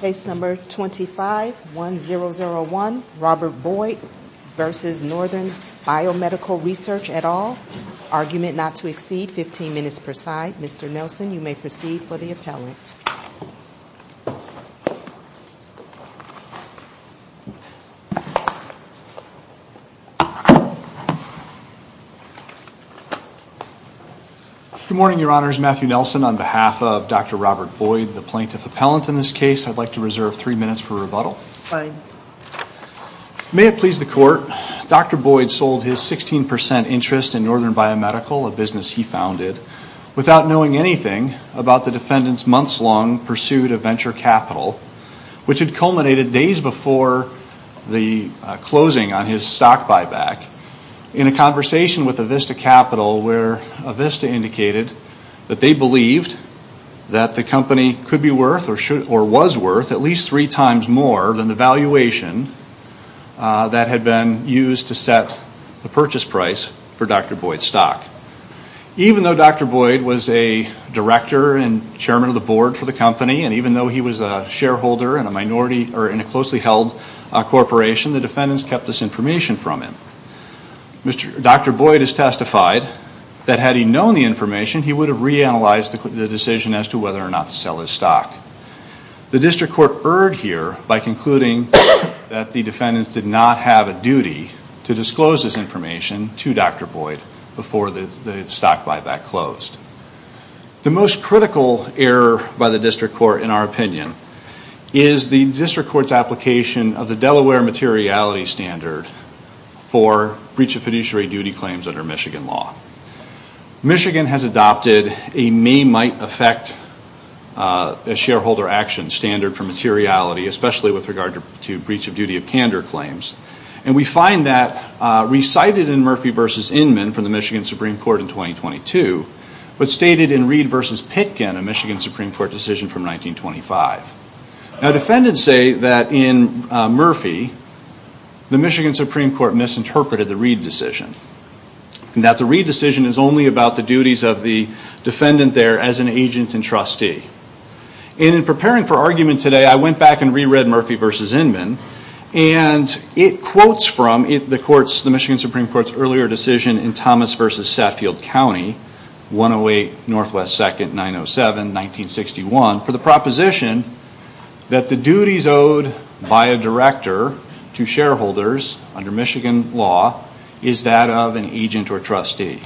Case number 251001, Robert Boyd v. Northern Biomedical Research et al. Argument not to exceed 15 minutes per side. Mr. Nelson, you may proceed for the appellant. Good morning, Your Honors. Matthew Nelson on behalf of Dr. Robert Boyd, the plaintiff I'd like to reserve three minutes for rebuttal. Fine. May it please the court, Dr. Boyd sold his 16% interest in Northern Biomedical, a business he founded, without knowing anything about the defendant's months-long pursuit of venture capital, which had culminated days before the closing on his stock buyback, in a conversation with Avista Capital where Avista indicated that they believed that the company could be worth, or was worth, at least three times more than the valuation that had been used to set the purchase price for Dr. Boyd's stock. Even though Dr. Boyd was a director and chairman of the board for the company, and even though he was a shareholder in a minority, or in a closely held corporation, the defendants kept this information from him. Dr. Boyd has testified that had he known the information, he would have reanalyzed the decision as to whether or not to sell his stock. The district court erred here by concluding that the defendants did not have a duty to disclose this information to Dr. Boyd before the stock buyback closed. The most critical error by the district court, in our opinion, is the district court's application of the Delaware materiality standard for breach of fiduciary duty claims under Michigan law. Michigan has adopted a may-might-affect as shareholder action standard for materiality, especially with regard to breach of duty of candor claims, and we find that recited in Murphy v. Inman from the Michigan Supreme Court in 2022, but stated in Reed v. Pitkin, a Michigan Supreme Court decision from 1925. Now defendants say that in Murphy, the Michigan Supreme Court misinterpreted the Reed decision, and that the Reed decision is only about the duties of the defendant there as an agent and trustee. And in preparing for argument today, I went back and re-read Murphy v. Inman, and it quotes from the court's, the Michigan Supreme Court's earlier decision in Thomas v. Saffield County, 108 Northwest 2nd, 907, 1961, for the proposition that the duties owed by a director to shareholders under Michigan law is that of an agent or trustee.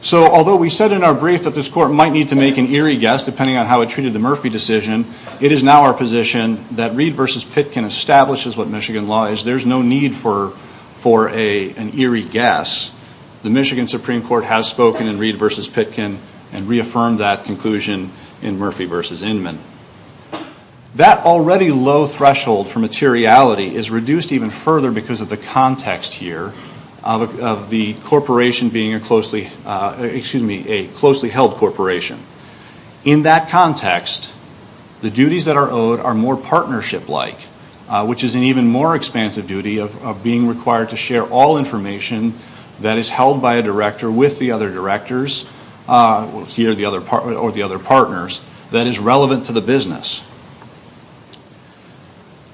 So although we said in our brief that this court might need to make an eerie guess depending on how it treated the Murphy decision, it is now our position that Reed v. Pitkin establishes what Michigan law is. There's no need for an eerie guess. The Michigan Supreme Court has spoken in Reed v. Pitkin and reaffirmed that conclusion in Murphy v. Inman. That already low threshold for materiality is reduced even further because of the context here of the corporation being a closely, excuse me, a closely held corporation. In that context, the duties that are owed are more partnership-like, which is an even more expansive duty of being required to share all information that is held by a director with the other directors or the other partners that is relevant to the business.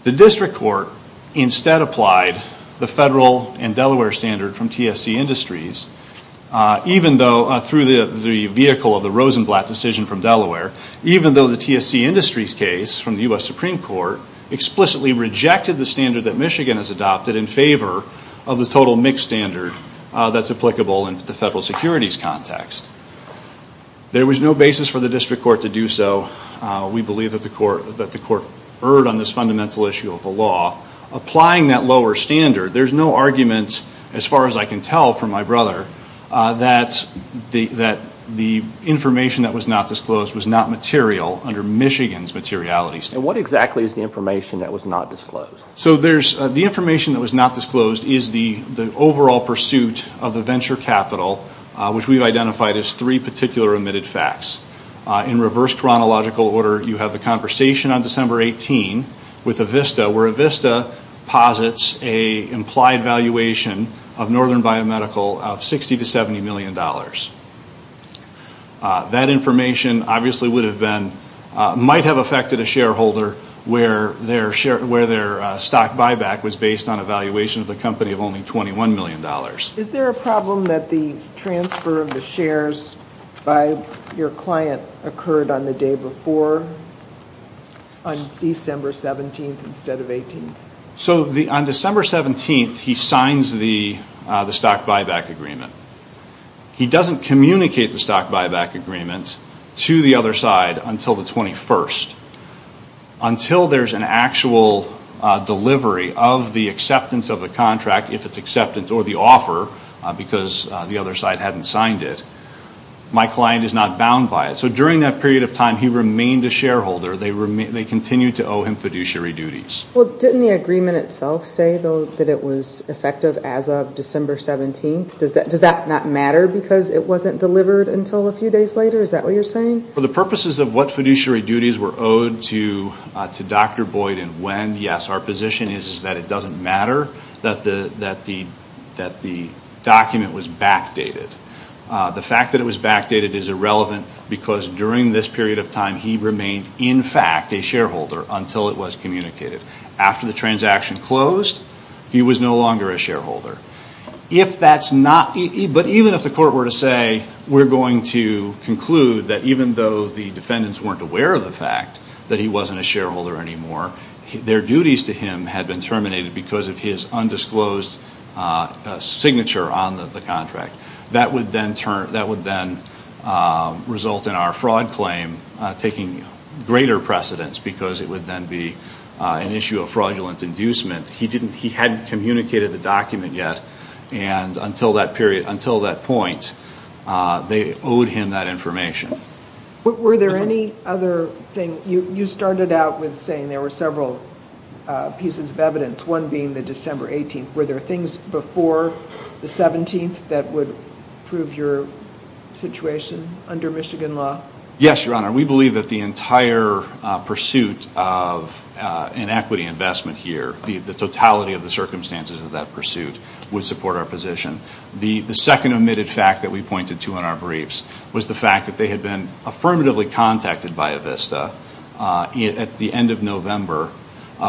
The district court instead applied the federal and Delaware standard from TSC Industries even though through the vehicle of the Rosenblatt decision from Delaware, even though the TSC Industries case from the U.S. Supreme Court explicitly rejected the standard that Michigan has adopted in favor of the total mix standard that's applicable in the federal securities context. There was no basis for the district court to do so. We believe that the court erred on this fundamental issue of the law. Applying that lower standard, there's no argument as far as I can tell from my brother that the information that was not disclosed was not material under Michigan's materiality standard. And what exactly is the information that was not disclosed? The information that was not disclosed is the overall pursuit of the venture capital, which we've identified as three particular omitted facts. In reverse chronological order, you have the conversation on December 18 with Avista, where Avista posits an implied valuation of Northern Biomedical of $60 to $70 million. That information obviously might have affected a shareholder where their stock buyback was based on a valuation of the company of only $21 million. Is there a problem that the transfer of the shares by your client occurred on the day before, on December 17 instead of 18? So on December 17, he signs the stock buyback agreement. He doesn't communicate the stock buyback agreement to the other side until the 21st. Until there's an actual delivery of the acceptance of the contract, if it's acceptance or the offer, because the other side hadn't signed it, my client is not bound by it. So during that period of time, he remained a shareholder. They continued to owe him fiduciary duties. Well, didn't the agreement itself say, though, that it was effective as of December 17? Does that not matter because it wasn't delivered until a few days later? Is that what you're saying? For the purposes of what fiduciary duties were owed to Dr. Boyd and when, yes. Our position is that it doesn't matter that the document was backdated. The fact that it was backdated is irrelevant because during this period of time, he remained, in fact, a shareholder until it was communicated. After the transaction closed, he was no longer a shareholder. If that's not, but even if the court were to say, we're going to conclude that even though the defendants weren't aware of the fact that he wasn't a shareholder anymore, their duties to him had been terminated because of his undisclosed signature on the contract. That would then result in our fraud claim taking greater precedence because it would then be an issue of fraudulent inducement. He hadn't communicated the document yet, and until that point, they owed him that information. Were there any other things? You started out with saying there were several pieces of evidence, one being the December 18th. Were there things before the 17th that would prove your situation under Michigan law? Yes, Your Honor. We believe that the entire pursuit of an equity investment here, the totality of the circumstances of that pursuit, would support our position. The second omitted fact that we pointed to in our briefs was the fact that they had been affirmatively contacted by Avista at the end of November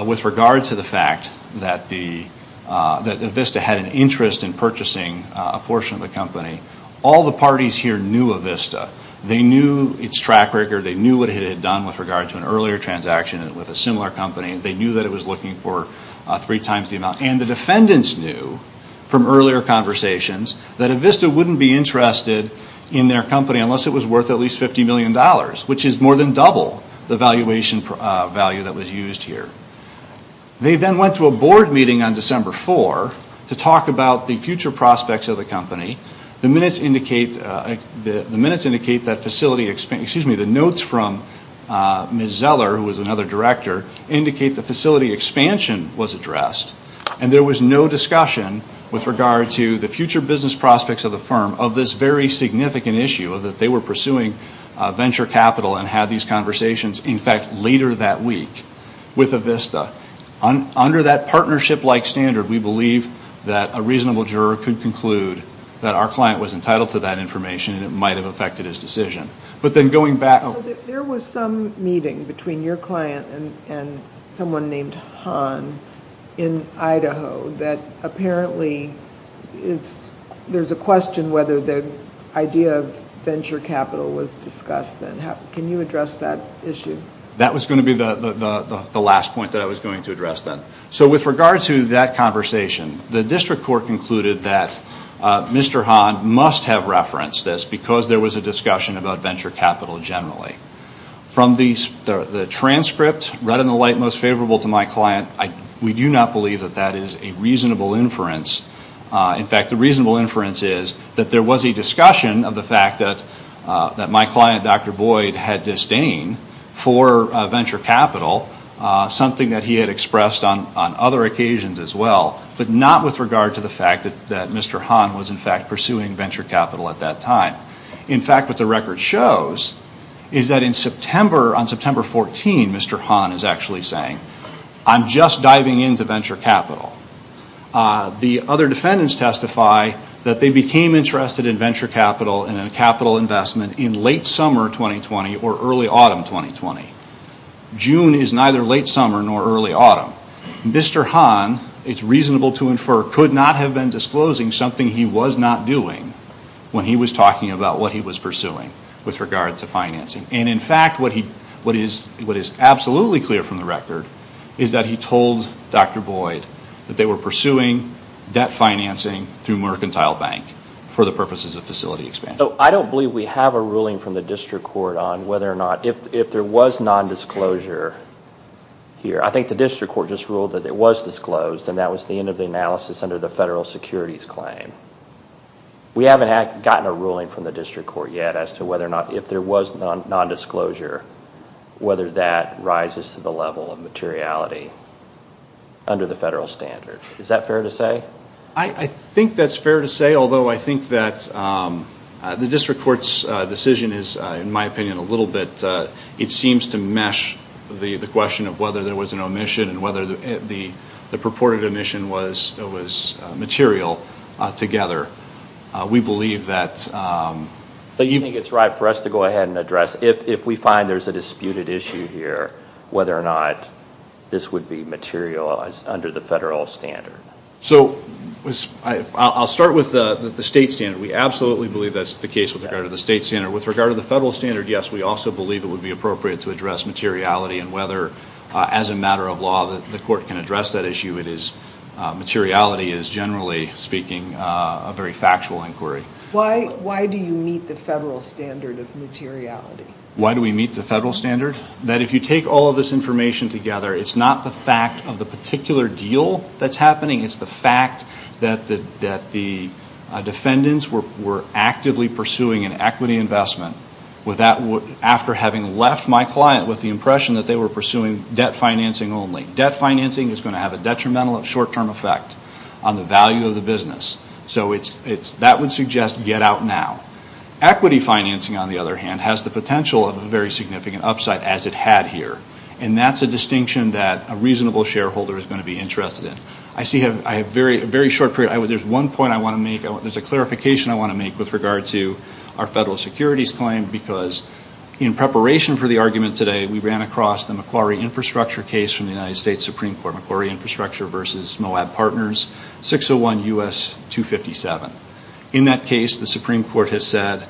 with regard to the fact that Avista had an interest in purchasing a portion of the company. All the parties here knew Avista. They knew its track record. They knew what it had done with regard to an earlier transaction with a similar company. They knew that it was looking for three times the amount, and the defendants knew from earlier conversations that Avista wouldn't be interested in their company unless it was worth at least $50 million, which is more than double the valuation value that was used here. They then went to a board meeting on December 4th to talk about the future prospects of the company. The minutes indicate that facility expansion, excuse me, the notes from Ms. Zeller, who was another director, indicate that facility expansion was addressed, and there was no discussion with regard to the future business prospects of the firm of this very significant issue that they were pursuing venture capital and had these conversations, in fact, later that week with Avista. Under that partnership-like standard, we believe that a reasonable juror could conclude that our client was entitled to that information and it might have affected his decision. But then going back... So there was some meeting between your client and someone named Han in Idaho that apparently there's a question whether the idea of venture capital was discussed then. Can you address that issue? That was going to be the last point that I was going to address then. So with regard to that conversation, the district court concluded that Mr. Han must have referenced this because there was a discussion about venture capital generally. From the transcript, right in the light most favorable to my client, we do not believe that that is a reasonable inference. In fact, the reasonable inference is that there was a discussion of the fact that my client Dr. Boyd had disdain for venture capital, something that he had expressed on other occasions as well, but not with regard to the fact that Mr. Han was in fact pursuing venture capital at that time. In fact, what the record shows is that in September, on September 14, Mr. Han is actually saying, I'm just diving into venture capital. The other defendants testify that they became interested in venture capital and in capital investment in late summer 2020 or early autumn 2020. June is neither late summer nor early autumn. Mr. Han, it's reasonable to infer, could not have been disclosing something he was not doing when he was talking about what he was pursuing with regard to financing. In fact, what is absolutely clear from the record is that he told Dr. Boyd that they were pursuing debt financing through Mercantile Bank for the purposes of facility expansion. I don't believe we have a ruling from the district court on whether or not, if there was nondisclosure here, I think the district court just ruled that it was disclosed and that was the end of the analysis under the federal securities claim. We haven't gotten a ruling from the district court yet as to whether or not, if there was nondisclosure, whether that rises to the level of materiality under the federal standard. Is that fair to say? I think that's fair to say, although I think that the district court's decision is, in my opinion, a little bit, it seems to mesh the question of whether there was an omission and whether the purported omission was material together. We believe that... I think it's right for us to go ahead and address, if we find there's a disputed issue here, whether or not this would be materialized under the federal standard. I'll start with the state standard. We absolutely believe that's the case with regard to the state standard. With regard to the federal standard, yes, we also believe it would be appropriate to address materiality and whether, as a matter of law, the court can address that issue. Materiality is, generally speaking, a very factual inquiry. Why do you meet the federal standard of materiality? Why do we meet the federal standard? That if you take all of this information together, it's not the fact of the particular deal that's It's the fact that the defendants were actively pursuing an equity investment. After having left my client with the impression that they were pursuing debt financing only. Debt financing is going to have a detrimental short-term effect on the value of the business. That would suggest get out now. Equity financing, on the other hand, has the potential of a very significant upside as it had here. That's a distinction that a reasonable shareholder is going to be interested in. I see I have a very short period. There's one point I want to make. There's a clarification I want to make with regard to our federal securities claim. In preparation for the argument today, we ran across the Macquarie Infrastructure case from the United States Supreme Court. Macquarie Infrastructure v. Moab Partners, 601 U.S. 257. In that case, the Supreme Court has said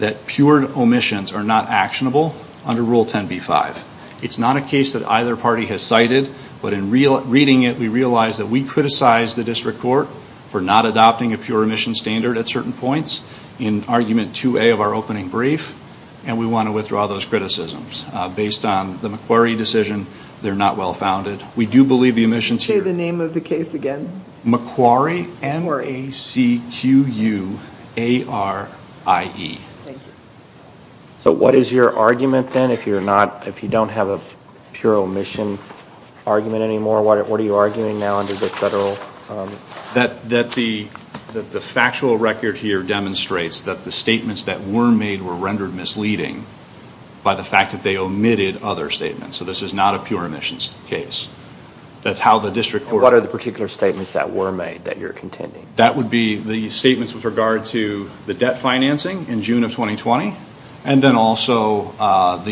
that pure omissions are not actionable under Rule 10b-5. It's not a case that either party has cited, but in reading it, we realize that we criticize the district court for not adopting a pure omission standard at certain points in Argument 2a of our opening brief. We want to withdraw those criticisms. Based on the Macquarie decision, they're not well-founded. We do believe the omissions here... Say the name of the case again. Macquarie, M-A-C-Q-U-A-R-I-E. What is your argument then if you don't have a pure omission argument anymore? What are you arguing now under the federal... That the factual record here demonstrates that the statements that were made were rendered misleading by the fact that they omitted other statements. So this is not a pure omissions case. That's how the district court... What are the particular statements that were made that you're contending? That would be the statements with regard to the debt financing in June of 2020, and then also the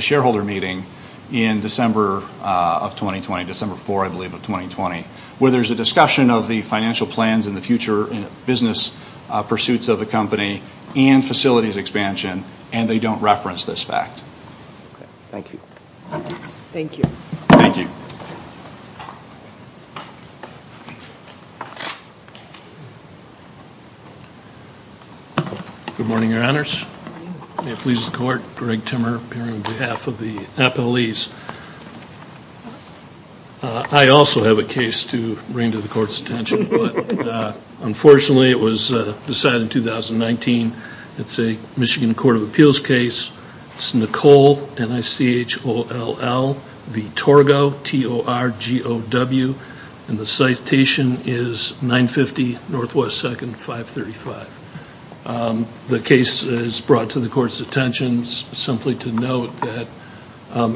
shareholder meeting in December of 2020, December 4, I believe, of 2020, where there's a discussion of the financial plans and the future business pursuits of the company and facilities expansion, and they don't reference this fact. Thank you. Thank you. Thank you. Good morning, your honors. Good morning. May it please the court, Greg Timmer here on behalf of the appellees. I also have a case to bring to the court's attention, but unfortunately it was decided in 2019. It's a Michigan Court of Appeals case. It's Nicole, N-I-C-H-O-L-L, v. Torgow, T-O-R-G-O-W, and the citation is 950 Northwest 2nd, 535. The case is brought to the court's attention simply to note that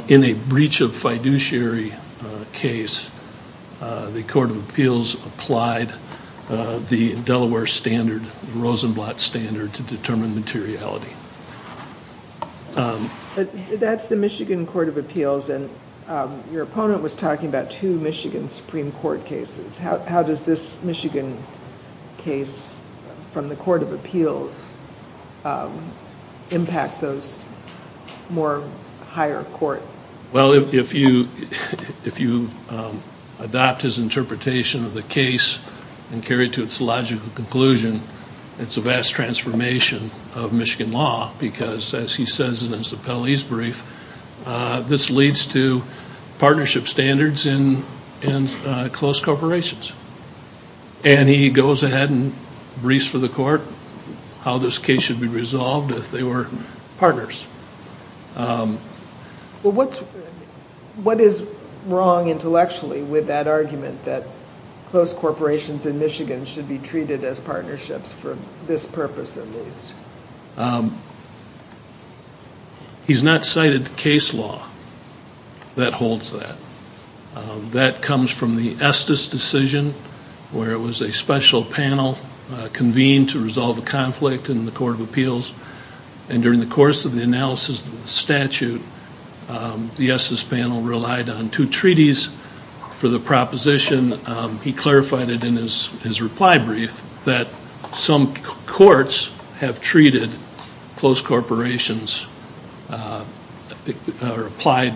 in a breach of fiduciary case, the Court of Appeals applied the Delaware standard, the Rosenblatt standard, to determine materiality. That's the Michigan Court of Appeals, and your opponent was talking about two Michigan Supreme Court cases. How does this Michigan case from the Court of Appeals impact those more higher court cases? Well, if you adopt his interpretation of the case and carry it to its logical conclusion, it's a vast transformation of Michigan law because, as he says in his appellee's brief, this leads to partnership standards in close corporations. And he goes ahead and briefs for the court how this case should be resolved if they were partners. What is wrong intellectually with that argument that close corporations in Michigan should be treated as partnerships for this purpose at least? He's not cited case law that holds that. That comes from the Estes decision where it was a special panel convened to resolve a conflict in the Court of Appeals, and during the course of the analysis of the statute, the Estes panel relied on two treaties for the proposition. He clarified it in his reply brief that some courts have treated close corporations or applied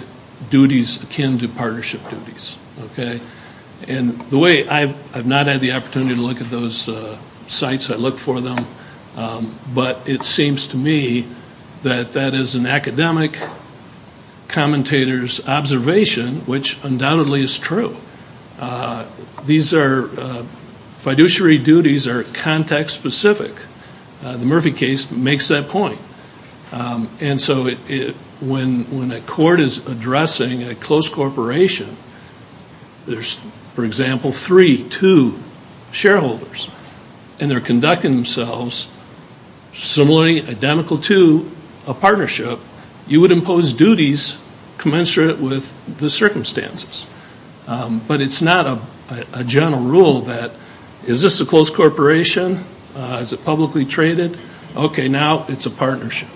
duties akin to partnership duties. And the way I've not had the opportunity to look at those sites, I look for them, but it seems to me that that is an academic commentator's observation, which undoubtedly is true. These are fiduciary duties are context specific. The Murphy case makes that point. And so when a court is addressing a close corporation, there's, for example, three, two shareholders, and they're conducting themselves similarly identical to a partnership, you would impose duties commensurate with the circumstances. But it's not a general rule that is this a close corporation? Is it publicly traded? Okay, now it's a partnership.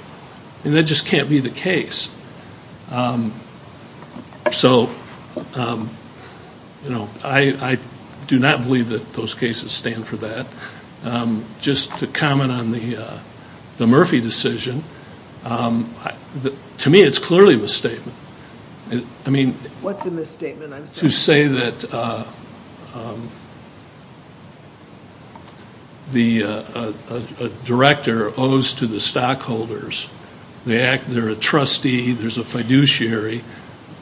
And that just can't be the case. So I do not believe that those cases stand for that. Just to comment on the Murphy decision, to me it's clearly a misstatement. I mean, to say that the director owes to the stockholders, they're a trustee, there's a fiduciary,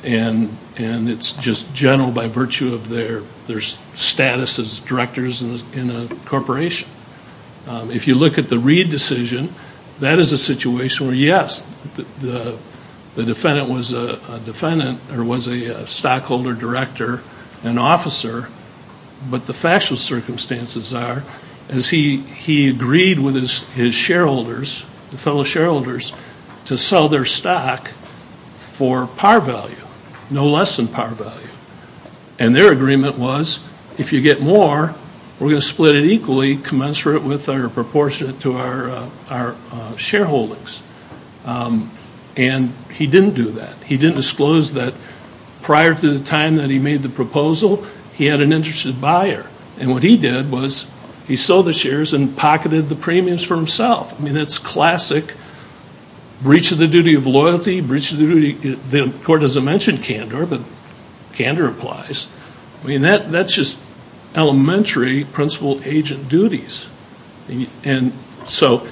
and it's just general by virtue of their status as directors in a corporation. If you look at the Reed decision, that is a situation where, yes, the defendant was a stockholder director and officer, but the factual circumstances are as he agreed with his shareholders, the fellow shareholders, to sell their stock for par value, no less than par value. And their agreement was, if you get more, we're going to split it equally commensurate with our proportionate to our shareholdings. And he didn't do that. He didn't disclose that prior to the time that he made the proposal, he had an interested buyer. And what he did was he sold the shares and pocketed the premiums for himself. I mean, that's classic breach of the duty of loyalty, breach of the duty, the court doesn't mention candor, but candor applies. I mean, that's just elementary principal agent duties. And so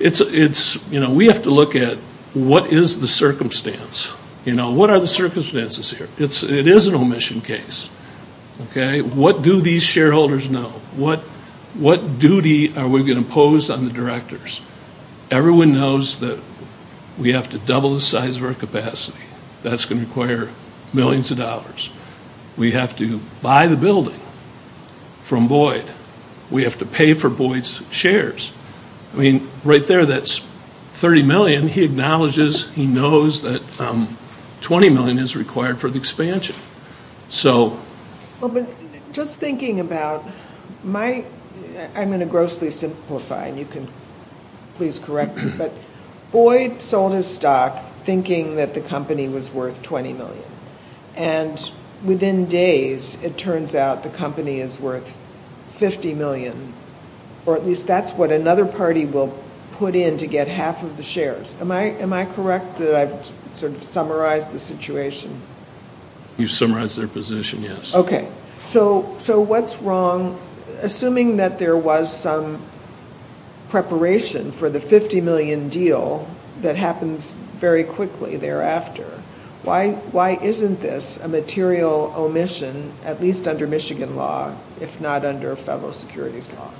it's, you know, we have to look at what is the circumstance? You know, what are the circumstances here? It is an omission case, okay? What do these shareholders know? What duty are we going to impose on the directors? Everyone knows that we have to double the size of our capacity. That's going to require millions of dollars. We have to buy the building from Boyd. We have to pay for Boyd's shares. I mean, right there, that's 30 million. He acknowledges, he knows that 20 million is required for the expansion. So. Well, but just thinking about my, I'm going to grossly simplify, and you can please correct me, but Boyd sold his stock thinking that the company was worth 20 million. And within days, it turns out the company is worth 50 million, or at least that's what another party will put in to get half of the shares. Am I correct that I've sort of summarized the situation? You've summarized their position, yes. So, so what's wrong, assuming that there was some preparation for the 50 million deal that happens very quickly thereafter. Why, why isn't this a material omission, at least under Michigan law, if not under federal securities law?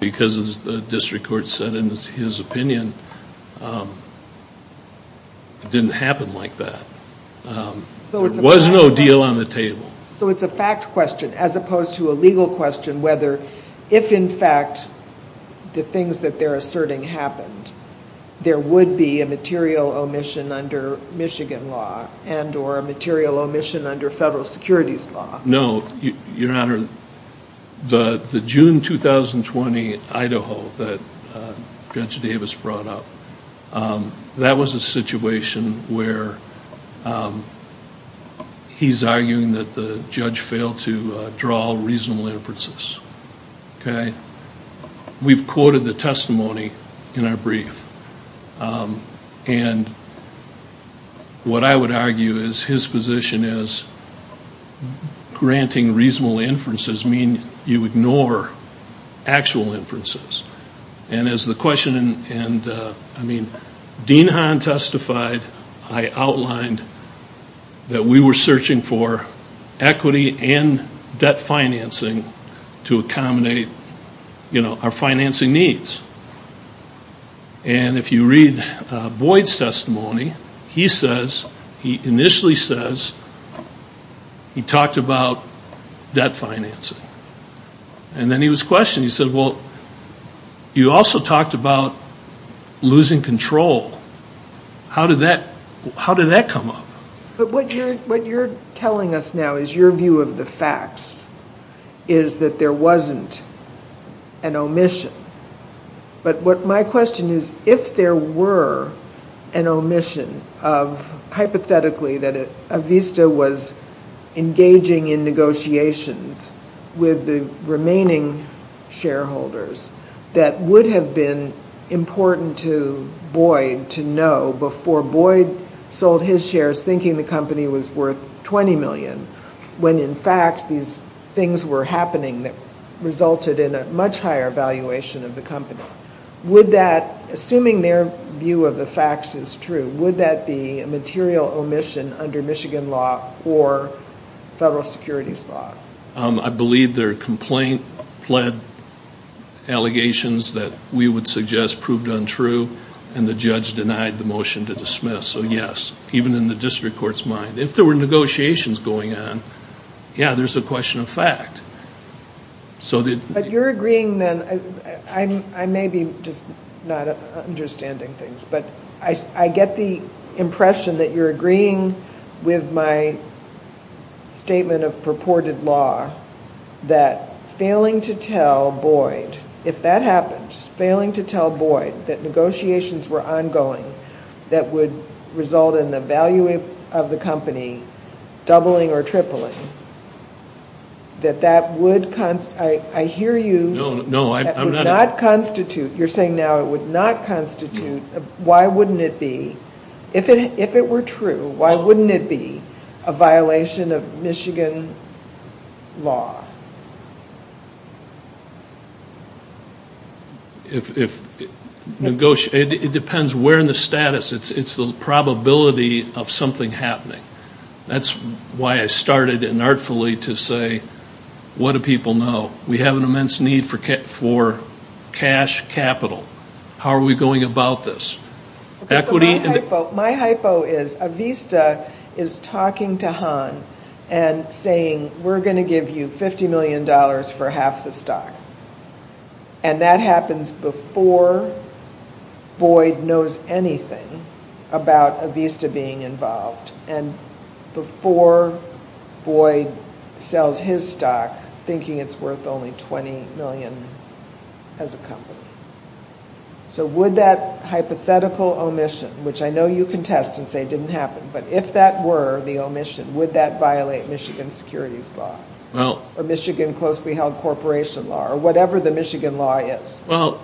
Because as the district court said in his opinion, it didn't happen like that. There was no deal on the table. So it's a fact question, as opposed to a legal question, whether, if in fact, the things that they're asserting happened, there would be a material omission under Michigan law, and or a material omission under federal securities law. No, your honor, the June 2020 Idaho that Judge Davis brought up, that was a situation where he's arguing that the judge failed to draw reasonable inferences. Okay. We've quoted the testimony in our brief. And what I would argue is his position is granting reasonable inferences mean you ignore actual inferences. And as the question, and I mean, Dean Hahn testified, I outlined that we were searching for equity and debt financing to accommodate, you know, our financing needs. And if you read Boyd's testimony, he says, he initially says, he talked about debt financing. And then he was questioning, he said, well, you also talked about losing control. How did that, how did that come up? But what you're telling us now is your view of the facts is that there wasn't an omission. But what my question is, if there were an omission of, hypothetically, that Avista was engaging in negotiations with the remaining shareholders that would have been important to Boyd to know before Boyd sold his shares thinking the company was worth 20 million, when in fact these things were happening that resulted in a much higher valuation of the company. Would that, assuming their view of the facts is true, would that be a material omission under Michigan law or federal securities law? I believe they're complaint-led allegations that we would suggest proved untrue and the judge denied the motion to dismiss. So yes, even in the district court's mind. If there were negotiations going on, yeah, there's a question of fact. So the. But you're agreeing then, I may be just not understanding things. But I get the impression that you're agreeing with my statement of purported law that failing to tell Boyd, if that happens, failing to tell Boyd that negotiations were ongoing that would result in the value of the company doubling or tripling, that that would, I hear you, that would not constitute. You're saying now it would not constitute. Why wouldn't it be? If it were true, why wouldn't it be a violation of Michigan law? It depends where in the status, it's the probability of something happening. That's why I started inartfully to say, what do people know? We have an immense need for cash capital. How are we going about this? Equity. So my hypo, my hypo is Avista is talking to Hahn and saying, we're going to give you $50 million for half the stock. And that happens before Boyd knows anything about Avista being involved. And before Boyd sells his stock, thinking it's worth only $20 million as a company. So would that hypothetical omission, which I know you contest and say didn't happen, but if that were the omission, would that violate Michigan securities law? Well. Or Michigan closely held corporation law or whatever the Michigan law is. Well,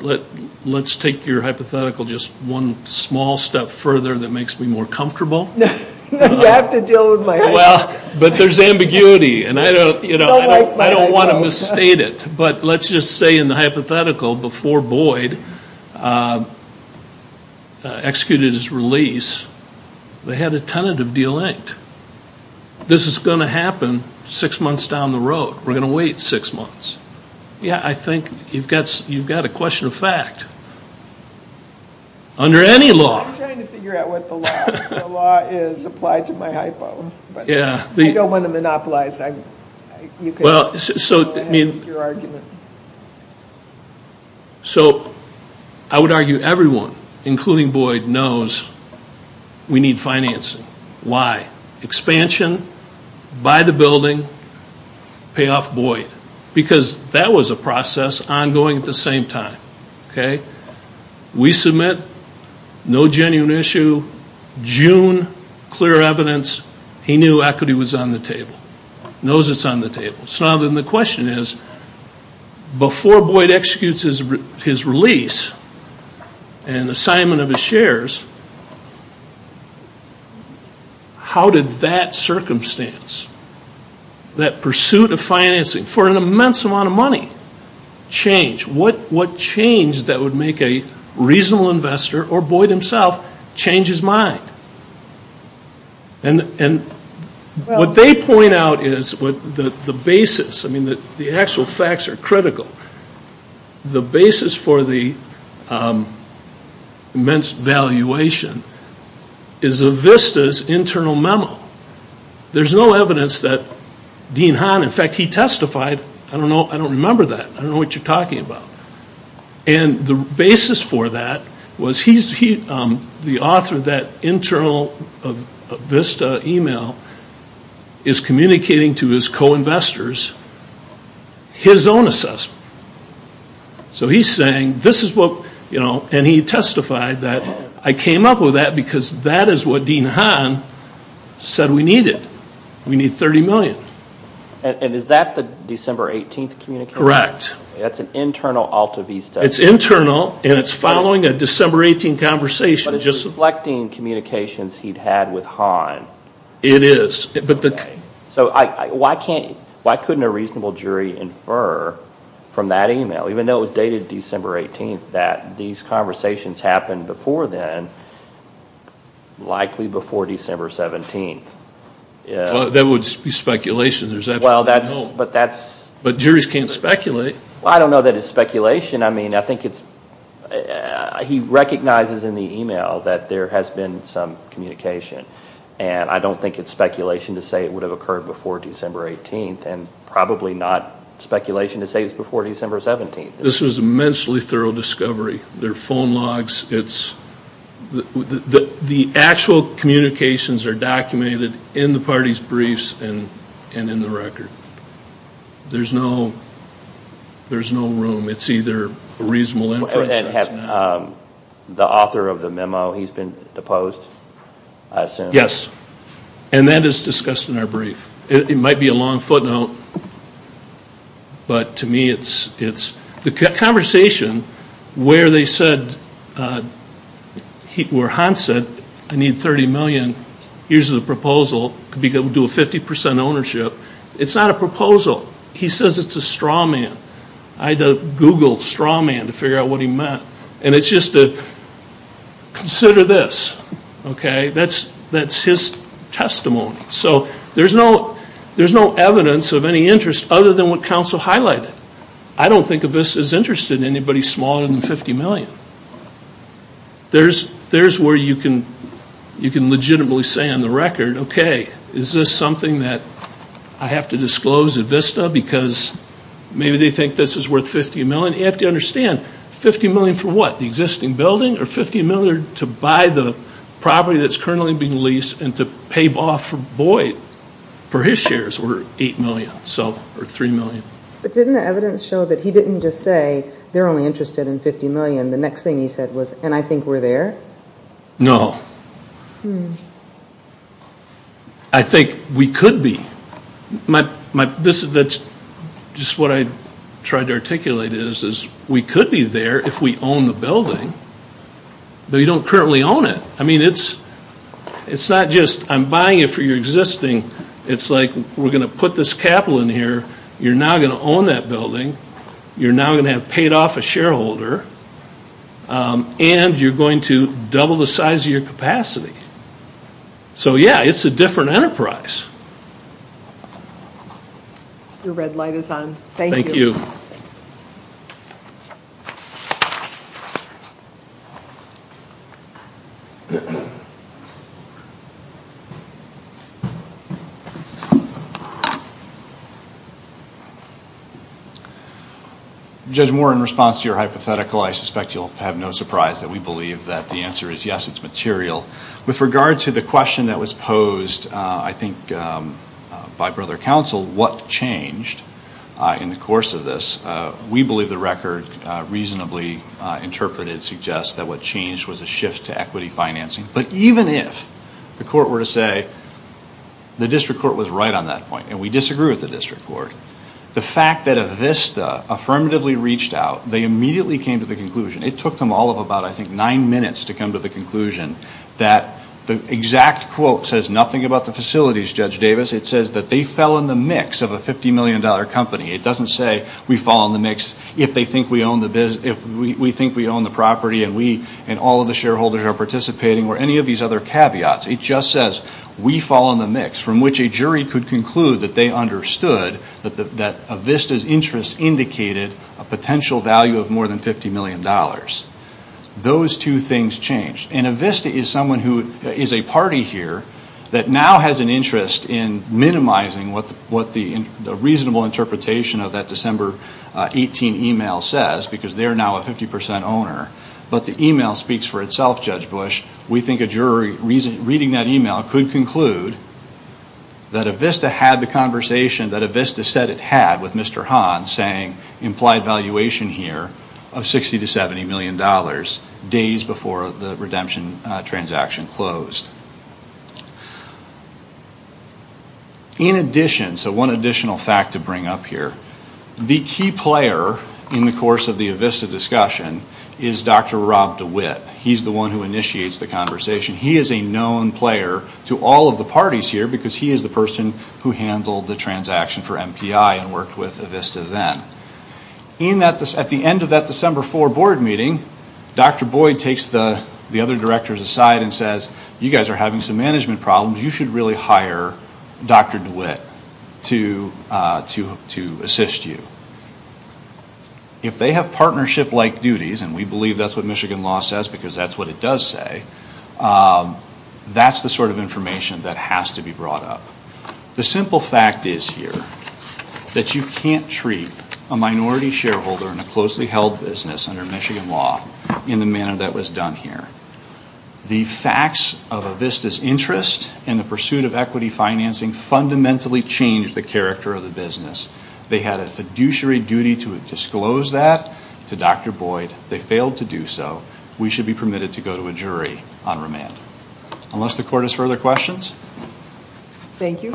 let's take your hypothetical just one small step further that makes me more comfortable. You have to deal with my hypo. But there's ambiguity and I don't want to misstate it. But let's just say in the hypothetical before Boyd executed his release, they had a tentative deal inked. This is going to happen six months down the road. We're going to wait six months. Yeah, I think you've got a question of fact. Under any law. I'm trying to figure out what the law is applied to my hypo. But I don't want to monopolize. You can go ahead with your argument. So I would argue everyone, including Boyd, knows we need financing. Why? Expansion, buy the building, pay off Boyd. Because that was a process ongoing at the same time. Okay? We submit. No genuine issue. June, clear evidence. He knew equity was on the table. Knows it's on the table. So now then the question is, before Boyd executes his release and assignment of his shares, how did that circumstance, that pursuit of financing for an immense amount of money, change? What change that would make a reasonable investor or Boyd himself change his mind? And what they point out is the basis. I mean, the actual facts are critical. The basis for the immense valuation is Avista's internal memo. There's no evidence that Dean Hahn, in fact, he testified. I don't know. I don't remember that. I don't know what you're talking about. And the basis for that was he's the author of that internal Avista email is communicating to his co-investors his own assessment. So he's saying this is what, you know, and he testified that I came up with that because that is what Dean Hahn said we needed. We need 30 million. And is that the December 18th communication? Correct. That's an internal Altavista. It's internal and it's following a December 18th conversation. But it's reflecting communications he'd had with Hahn. It is. So why couldn't a reasonable jury infer from that email, even though it was dated December 18th, that these conversations happened before then, likely before December 17th? That would be speculation. There's absolutely no... But that's... But juries can't speculate. Well, I don't know that it's speculation. I mean, I think it's, he recognizes in the email that there has been some communication. And I don't think it's speculation to say it would have occurred before December 18th and probably not speculation to say it was before December 17th. This was immensely thorough discovery. There are phone logs. It's, the actual communications are documented in the party's briefs and in the record. There's no, there's no room. It's either a reasonable inference or it's not. And the author of the memo, he's been deposed, I assume? Yes. And that is discussed in our brief. It might be a long footnote, but to me it's, the conversation where they said, where Hahn said, I need 30 million, here's the proposal, could be able to do a 50% ownership. It's not a proposal. He says it's a straw man. I had to Google straw man to figure out what he meant. And it's just a, consider this, okay? That's his testimony. So there's no evidence of any interest other than what counsel highlighted. I don't think of this as interested in anybody smaller than 50 million. There's where you can legitimately say on the record, okay, is this something that I have to disclose at Vista? Because maybe they think this is worth 50 million. You have to understand, 50 million for what? The existing building? Or 50 million to buy the property that's currently being leased and to pay off for Boyd, for his shares, were 8 million, so, or 3 million. But didn't the evidence show that he didn't just say, they're only interested in 50 million? The next thing he said was, and I think we're there? No. I think we could be. My, this is, that's just what I tried to articulate is, is we could be there if we own the building. But we don't currently own it. I mean, it's, it's not just I'm buying it for your existing. It's like, we're going to put this capital in here. You're now going to own that building. You're now going to have paid off a shareholder. And you're going to double the size of your capacity. So yeah, it's a different enterprise. Your red light is on. Thank you. Thank you. Judge Moore, in response to your hypothetical, I suspect you'll have no surprise that we believe that the answer is yes, it's material. With regard to the question that was posed, I think, by brother counsel, what changed in the course of this, we believe the record reasonably interpreted suggests that what changed was a shift to equity financing. But even if the court were to say the district court was right on that point, and we disagree with the district court, the fact that Avista affirmatively reached out, they immediately came to the conclusion, it took them all of about, I think, nine minutes to come to the conclusion that the exact quote says nothing about the facilities, Judge Davis. It says that they fell in the mix of a $50 million company. It doesn't say we fall in the mix if they think we own the, if we think we own the property and we and all of the shareholders are participating, or any of these other caveats. It just says we fall in the mix, from which a jury could conclude that they understood that Avista's interest indicated a potential value of more than $50 million. Those two things changed, and Avista is someone who is a party here that now has an interest in minimizing what the reasonable interpretation of that December 18 email says, because they're now a 50% owner. But the email speaks for itself, Judge Bush. We think a jury reading that email could conclude that Avista had the conversation that Avista said it had with Mr. Hahn, saying implied valuation here of $60 to $70 million, days before the redemption transaction closed. In addition, so one additional fact to bring up here. The key player in the course of the Avista discussion is Dr. Rob DeWitt. He's the one who initiates the conversation. He is a known player to all of the parties here, because he is the person who handled the transaction for MPI and worked with Avista then. At the end of that December 4 board meeting, Dr. Boyd takes the other directors aside and says, you guys are having some management problems. You should really hire Dr. DeWitt to assist you. If they have partnership-like duties, and we believe that's what Michigan law says, because that's what it does say, that's the sort of information that has to be brought up. The simple fact is here that you can't treat a minority shareholder in a closely held business under Michigan law in the manner that was done here. The facts of Avista's interest in the pursuit of equity financing fundamentally changed the character of the business. They had a fiduciary duty to disclose that to Dr. Boyd. They failed to do so. We should be permitted to go to a jury on remand. Unless the court has further questions? Thank you.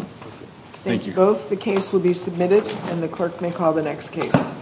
Thank you both. The case will be submitted and the clerk may call the next case.